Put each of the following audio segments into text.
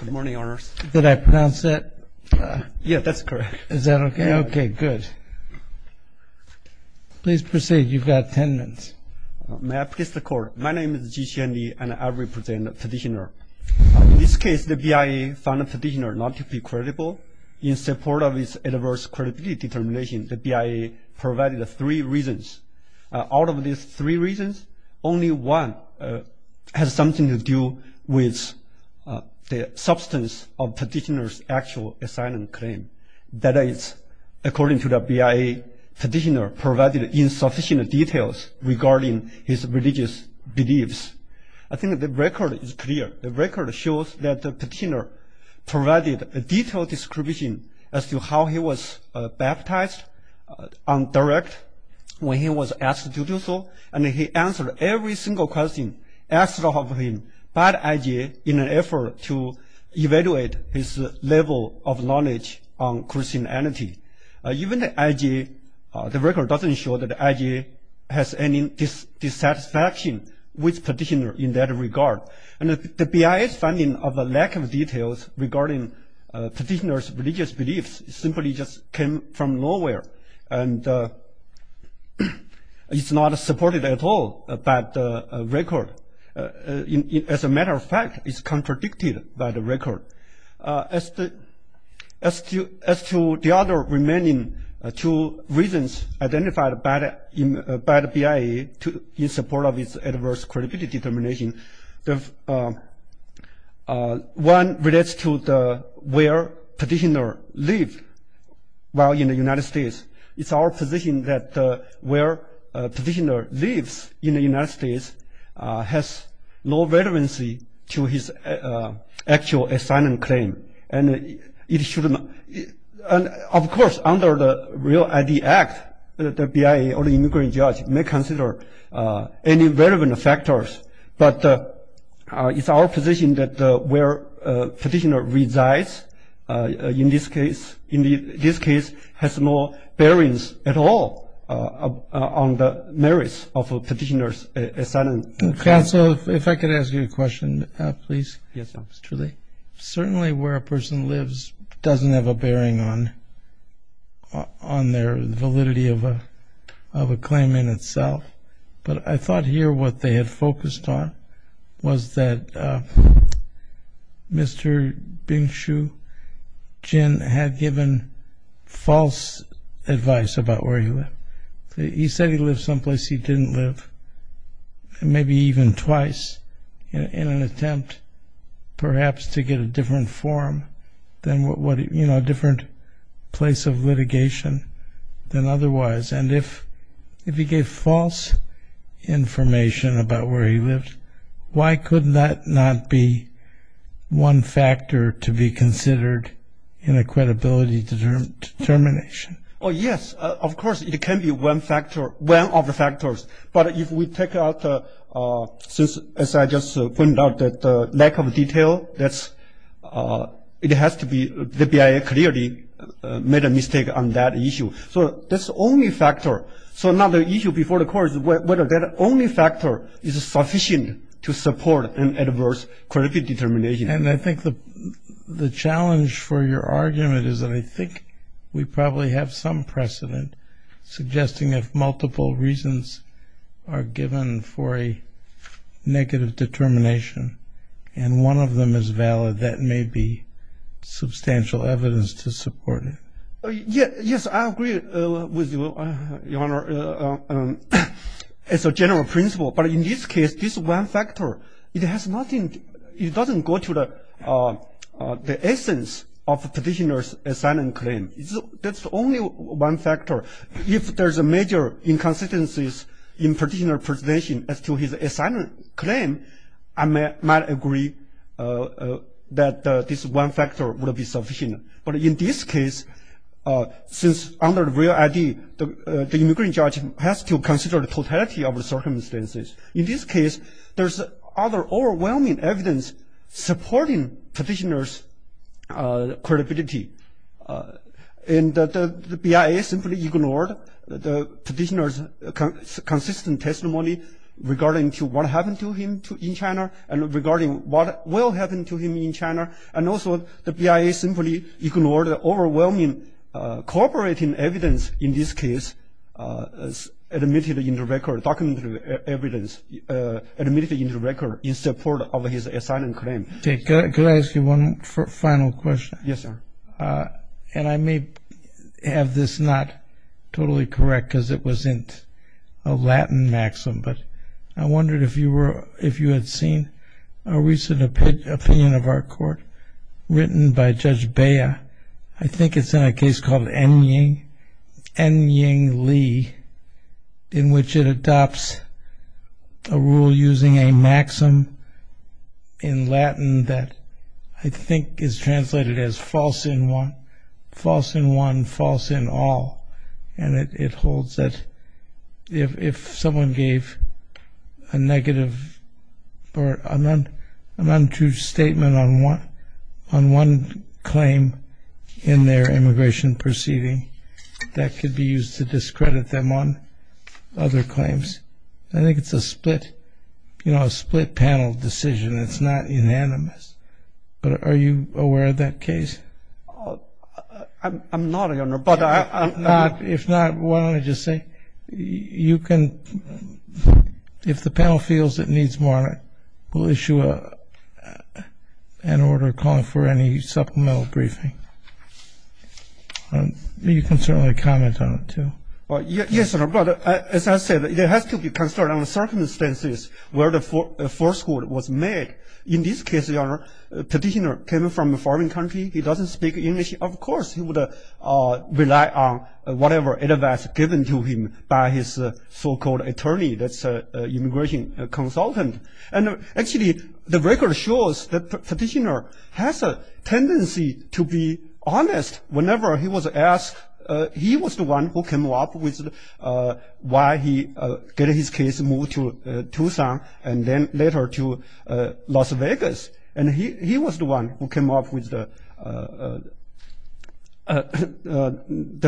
Good morning, Honors. Did I pronounce that? Yeah, that's correct. Is that okay? Okay, good. Please proceed. You've got ten minutes. May I please the court? My name is Ji Xianli and I represent the petitioner. In this case, the BIA found the petitioner not to be credible. In support of his adverse credibility determination, the BIA provided three reasons. Out of these three reasons, only one has something to do with the substance of the petitioner's actual asylum claim. That is, according to the BIA, the petitioner provided insufficient details regarding his religious beliefs. I think the record is clear. The record shows that the petitioner provided a detailed description as to how he was baptized on direct when he was asked to do so, and he answered every single question asked of him by the IJ in an effort to evaluate his level of knowledge on Christianity. Even the IJ, the record doesn't show that the IJ has any dissatisfaction with petitioner in that regard. And the BIA's finding of a lack of details regarding petitioner's religious beliefs simply just came from the fact that it's not supported at all by the record. As a matter of fact, it's contradicted by the record. As to the other remaining two reasons identified by the BIA in support of its adverse credibility determination, one relates to where petitioner lived while in the United States. It's our position that where petitioner lives in the United States has no relevancy to his actual asylum claim. And of course, under the REAL ID Act, the BIA or the immigrant judge may consider any relevant factors, but it's our position that where petitioner resides in this case has no bearings at all on the merits of a petitioner's asylum claim. If I could ask you a question, please. Certainly where a person lives doesn't have a bearing on their validity of a claim in itself, but I false advice about where he lived. He said he lived someplace he didn't live, maybe even twice, in an attempt perhaps to get a different form, a different place of litigation than otherwise. And if he gave false information about where he lived, why could that not be one factor to be considered in a credibility determination? Oh yes, of course it can be one factor, one of the factors, but if we take out, since as I just pointed out that lack of detail, that's, it has to be the BIA clearly made a mistake on that issue. So that's the only factor. So now the issue before the court is whether that only factor is sufficient to support an adverse credibility determination. And I think the challenge for your argument is that I think we probably have some precedent suggesting if multiple reasons are given for a negative determination and one of them is valid, that may be substantial evidence to support it. Yes, I agree with you, Your Honor, as a general principle. But in this case, this one factor, it has to consider the totality of the circumstances. In this case, there's other overwhelming evidence supporting petitioner's assignment claim. That's the only one factor. If there's a major inconsistencies in petitioner's presentation as to his assignment claim, I might agree that this one factor would be sufficient. But in this case, since under the real ID, the immigrant judge has to consider the totality of the circumstances. In this case, there's other overwhelming evidence supporting petitioner's credibility. And the BIA simply ignored the petitioner's consistent testimony regarding to what happened to him in China and regarding what will happen to him in China. And also, the BIA simply ignored the overwhelming cooperating evidence in this case admitted in the record, documented evidence admitted in the record in support of his assignment claim. Okay, could I ask you one final question? Yes, sir. And I may have this not totally correct because it wasn't a Latin maxim, but I wondered if you were, if you had seen a recent opinion of our court written by Judge Bea. I think it's in a case called Enying Li, in which it adopts a rule using a maxim in Latin that I think is translated as false in one, false in all. And it holds that if someone gave a on one claim in their immigration proceeding, that could be used to discredit them on other claims. I think it's a split, you know, a split panel decision. It's not unanimous. But are you aware of that case? I'm not, Your Honor, but I'm not. If not, why don't I just say you can, if the panel feels it in order, call it for any supplemental briefing. You can certainly comment on it, too. Yes, but as I said, it has to be considered on the circumstances where the first court was made. In this case, Your Honor, the petitioner came from a foreign country. He doesn't speak English. Of course he would rely on whatever advice given to him by his so-called attorney, that's an immigration consultant. And actually, the record shows that petitioner has a tendency to be honest whenever he was asked. He was the one who came up with why he getting his case moved to Tucson and then later to Las Vegas. And he was the one who came up with the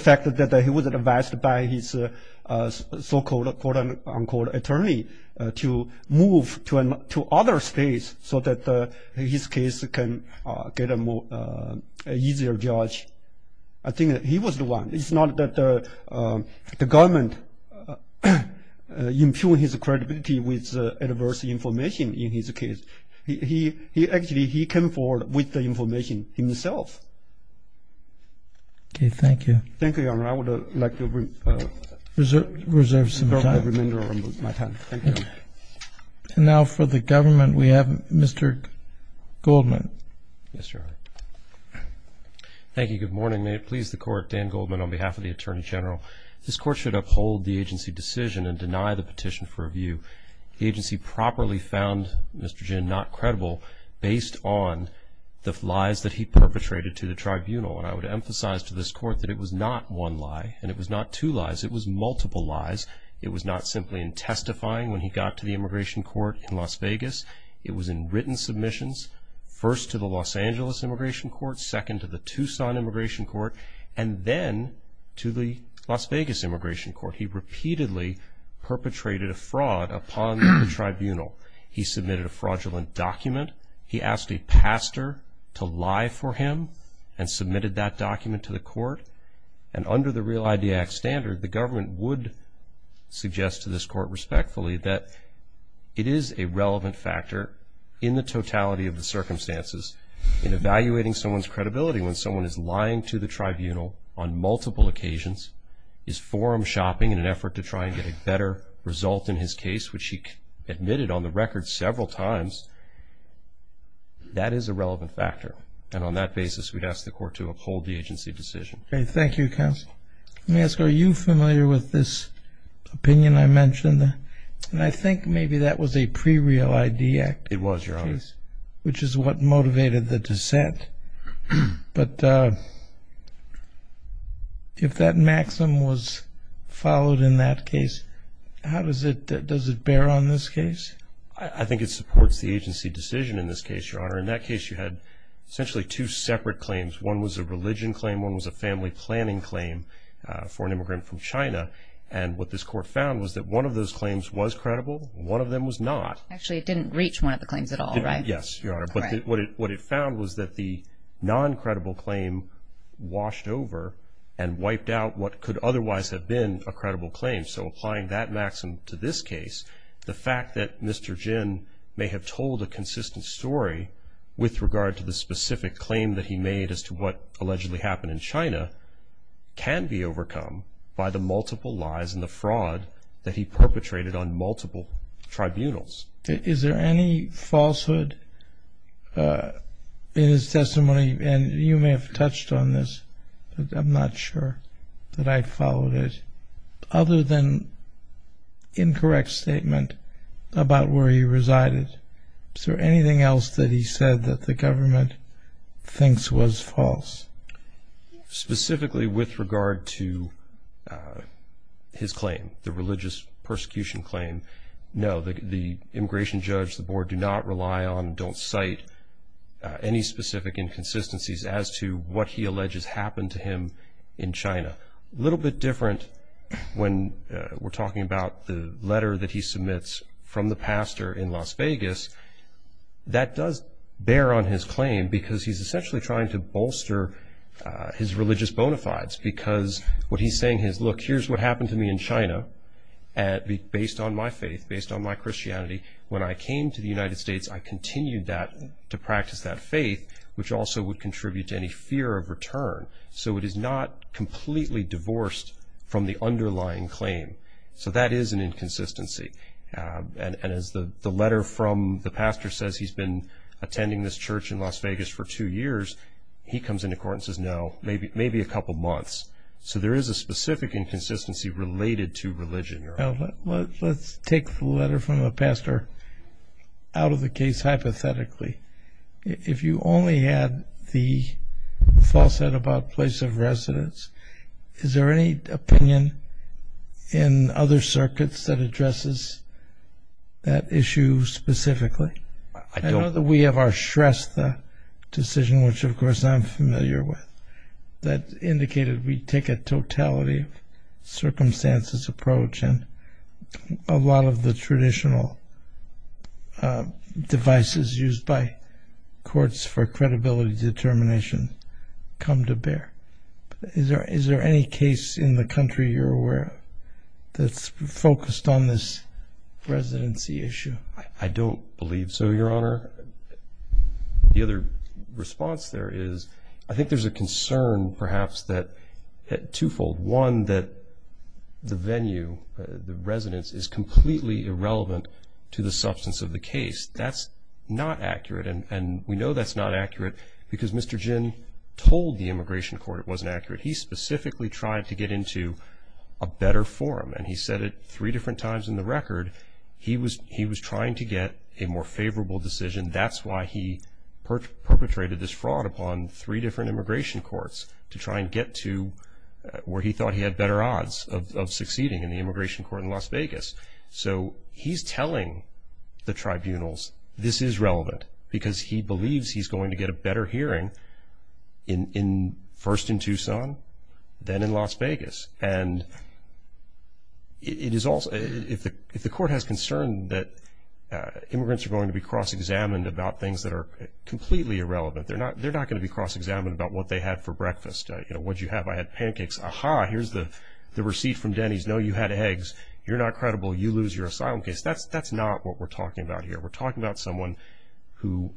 fact that he was advised by his so-called attorney to move to other states so that his case can get a more easier judge. I think that he was the one. It's not that the government impugned his credibility with adverse information in his case. He actually came forward with the information himself. Okay, thank you. Thank you, Your Honor. I would like to reserve some time. And now for the government, we have Mr. Goldman. Yes, Your Honor. Thank you. Good morning. May it please the court, Dan Goldman on behalf of the Attorney General. This court should uphold the agency decision and deny the petition for review. The agency properly found Mr. Jin not credible based on the lies that he perpetrated to the tribunal. And I would It was multiple lies. It was not simply in testifying when he got to the immigration court in Las Vegas. It was in written submissions, first to the Los Angeles Immigration Court, second to the Tucson Immigration Court, and then to the Las Vegas Immigration Court. He repeatedly perpetrated a fraud upon the tribunal. He submitted a fraudulent document. He asked a pastor to lie for him and submitted that document to the court. And under the Real ID Act standard, the government would suggest to this court respectfully that it is a relevant factor in the totality of the circumstances in evaluating someone's credibility when someone is lying to the tribunal on multiple occasions, is forum shopping in an effort to try and get a better result in his case, which he admitted on the record several times. That is a relevant factor. And on that basis, we'd ask the court to uphold the agency decision. Okay, thank you, counsel. Let me ask, are you familiar with this opinion I mentioned? And I think maybe that was a pre-Real ID Act. It was, Your Honor. Which is what motivated the dissent. But if that maximum was followed in that case, how does it bear on this case? I think it supports the agency decision in this case, Your Honor. In that case, you had essentially two separate claims. One was a religion claim. One was a family planning claim for an immigrant from China. And what this court found was that one of those claims was credible. One of them was not. Actually, it didn't reach one of the claims at all, right? Yes, Your Honor. But what it found was that the non-credible claim washed over and wiped out what could otherwise have been a credible claim. So applying that maximum to this case, the fact that Mr. Jin may have told a consistent story with regard to the specific claim that he made as to what allegedly happened in China can be overcome by the multiple lies and the fraud that he perpetrated on multiple tribunals. Is there any falsehood in his testimony, and you may have touched on this, I'm not sure that I followed it, other than incorrect statement about where he resided. Is there anything else that he said that the government thinks was false? Specifically with regard to his claim, the religious persecution claim, no. The immigration judge, the board, do not rely on, don't cite any specific inconsistencies as to what he alleges happened to him in China. A little bit different when we're talking about the letter that he submits from the pastor in Las Vegas, that does bear on his claim because he's essentially trying to bolster his religious bona fides. Because what he's saying is, look, here's what happened to me in China, based on my faith, based on my Christianity. When I came to the United States, I continued to practice that faith, which also would contribute to any fear of return. So it is not completely divorced from the underlying claim. So that is an inconsistency. And as the letter from the pastor says he's been attending this church in Las Vegas for two years, he comes into court and says no, maybe a couple months. So there is a specific inconsistency related to religion. Let's take the letter from the pastor out of the case hypothetically. If you only had the falsehood about place of Is there any opinion in other circuits that addresses that issue specifically? I know that we have our Shrestha decision, which of course I'm familiar with, that indicated we take a totality of circumstances approach and a lot of the traditional devices used by courts for credibility determination come to any case in the country you're aware of that's focused on this residency issue? I don't believe so, your honor. The other response there is, I think there's a concern perhaps that twofold. One, that the venue, the residence, is completely irrelevant to the substance of the case. That's not accurate and we know that's not accurate because Mr. Jin told the immigration court it wasn't accurate. He specifically tried to get into a better forum and he said it three different times in the record. He was trying to get a more favorable decision. That's why he perpetrated this fraud upon three different immigration courts to try and get to where he thought he had better odds of succeeding in the immigration court in Las Vegas. So he's telling the tribunals this is relevant because he then in Las Vegas. And it is also, if the court has concern that immigrants are going to be cross-examined about things that are completely irrelevant, they're not going to be cross-examined about what they had for breakfast. What did you have? I had pancakes. Aha, here's the receipt from Denny's. No, you had eggs. You're not credible. You lose your asylum case. That's not what we're talking about here. We're talking about someone who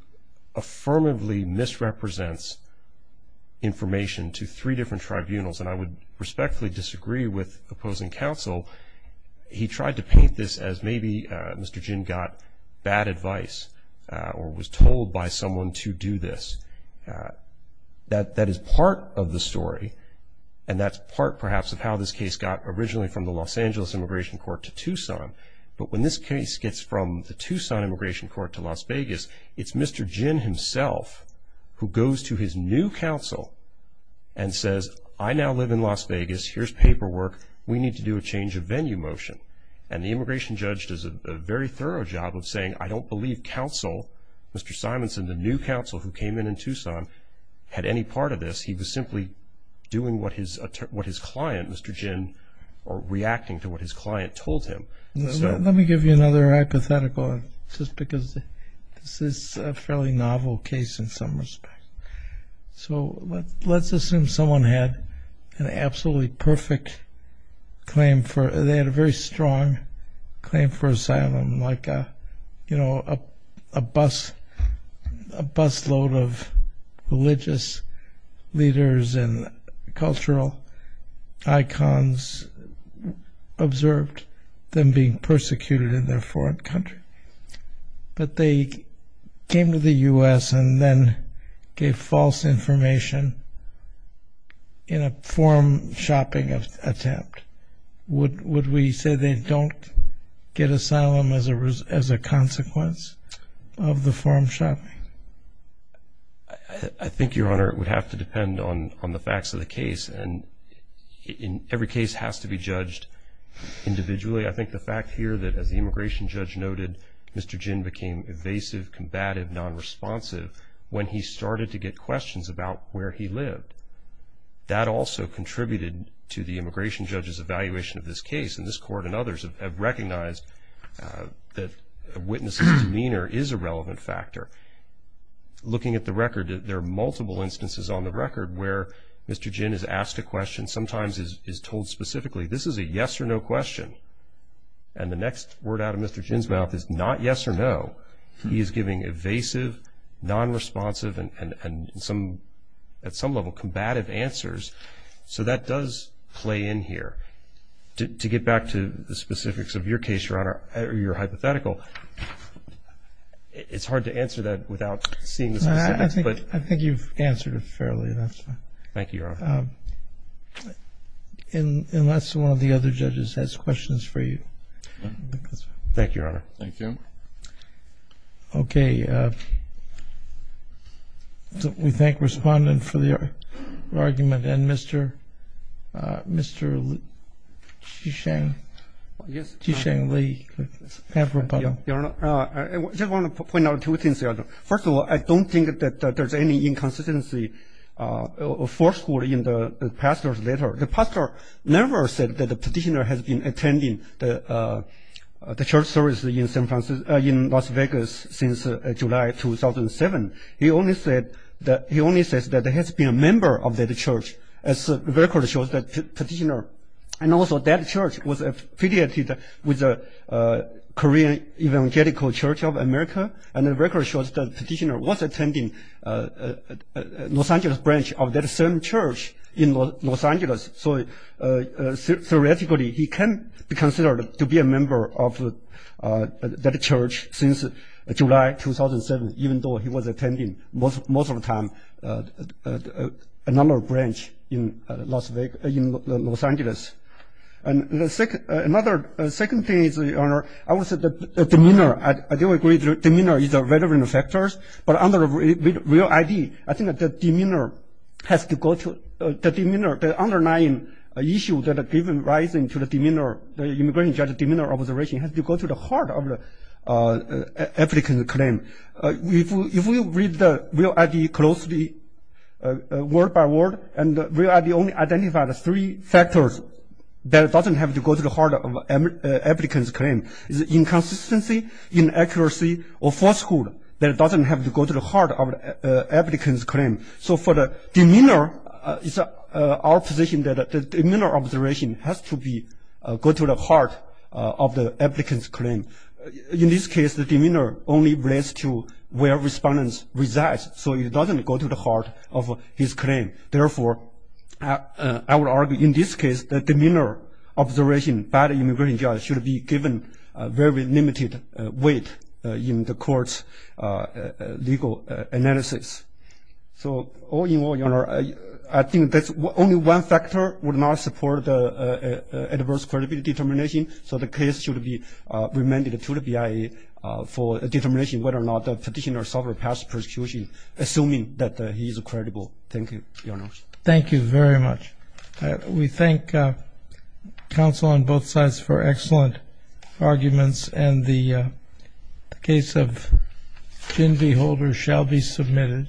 affirmatively misrepresents information to three different tribunals. And I would respectfully disagree with opposing counsel. He tried to paint this as maybe Mr. Jin got bad advice or was told by someone to do this. That is part of the story and that's part perhaps of how this case got originally from the Los Angeles immigration court to Tucson. But when this case gets from the Tucson immigration court to Las Vegas, he goes to his new counsel and says, I now live in Las Vegas. Here's paperwork. We need to do a change of venue motion. And the immigration judge does a very thorough job of saying, I don't believe counsel, Mr. Simonson, the new counsel who came in in Tucson, had any part of this. He was simply doing what his client, Mr. Jin, or reacting to what his client told him. Let me give you another hypothetical just because this is a fairly novel case in some respects. So let's assume someone had an absolutely perfect claim for, they had a very strong claim for asylum, like a, you know, a busload of religious leaders and cultural icons observed them being persecuted in their foreign country. But they came to the U.S. and then gave false information in a form shopping attempt. Would we say they don't get asylum as a consequence of the form shopping? I think, Your Honor, it would have to depend on the facts of the case. And in every case has to be judged individually. I think the fact here that, as the immigration judge noted, Mr. Jin became evasive, combative, non-responsive when he started to get questions about where he lived. That also contributed to the immigration judge's evaluation of this case. And this court and others have recognized that a witness's demeanor is a relevant factor. Looking at the record, there are multiple instances on the record where Mr. Jin is asked a question, sometimes is told specifically, this is a yes or no question. And the next word out of Mr. Jin's mouth is not yes or no. He is giving evasive, non-responsive, and at some level combative answers. So that does play in here. To get back to the specifics of your case, Your Honor, or your hypothetical, it's hard to answer that without seeing the specifics. I think you've answered it fairly enough. Thank you, Your Honor. Unless one of the other judges has questions for you. Thank you, Your Honor. Thank you. Okay. We thank the respondent for the argument and Mr. Jisheng Li. I just want to point out two things, Your Honor. First of all, I don't think that there's any inconsistency or falsehood in the pastor's letter. The pastor never said that the petitioner has been attending the church service in Las Vegas since July 2007. He only says that there has been a member of that church. The record shows that petitioner and also that church was affiliated with the Korean Evangelical Church of America. And the record shows that petitioner was attending Los Angeles branch of that same church in Los Angeles. So theoretically, he can be considered to be a member of that church since July 2007, even though he was attending most of the time another branch in Los Angeles. And the second thing is, Your Honor, I would say the demeanor. I do agree that demeanor is a relevant factor. But under the real ID, I think that the demeanor has to go to the demeanor. The underlying issue that has been rising to the immigration judge's demeanor observation has to go to the heart of the applicant's claim. If we read the real ID closely, word by word, and the real ID only identified three factors that doesn't have to go to the heart of the applicant's claim. It's inconsistency, inaccuracy, or falsehood that doesn't have to go to the heart of the applicant's claim. So for the demeanor, it's our position that the demeanor observation has to go to the heart of the applicant's claim. In this case, the demeanor only relates to where respondents reside. So it doesn't go to the heart of his claim. Therefore, I would argue in this case, the demeanor observation by the immigration judge should be given very limited weight in the court's legal analysis. So all in all, Your Honor, I think that only one factor would not support the adverse credibility determination. So the case should be remanded to the BIA for determination whether or not the petitioner suffered past persecution, assuming that he is credible. Thank you, Your Honor. Thank you very much. We thank counsel on both sides for excellent arguments, and the case of Ginby Holder shall be submitted.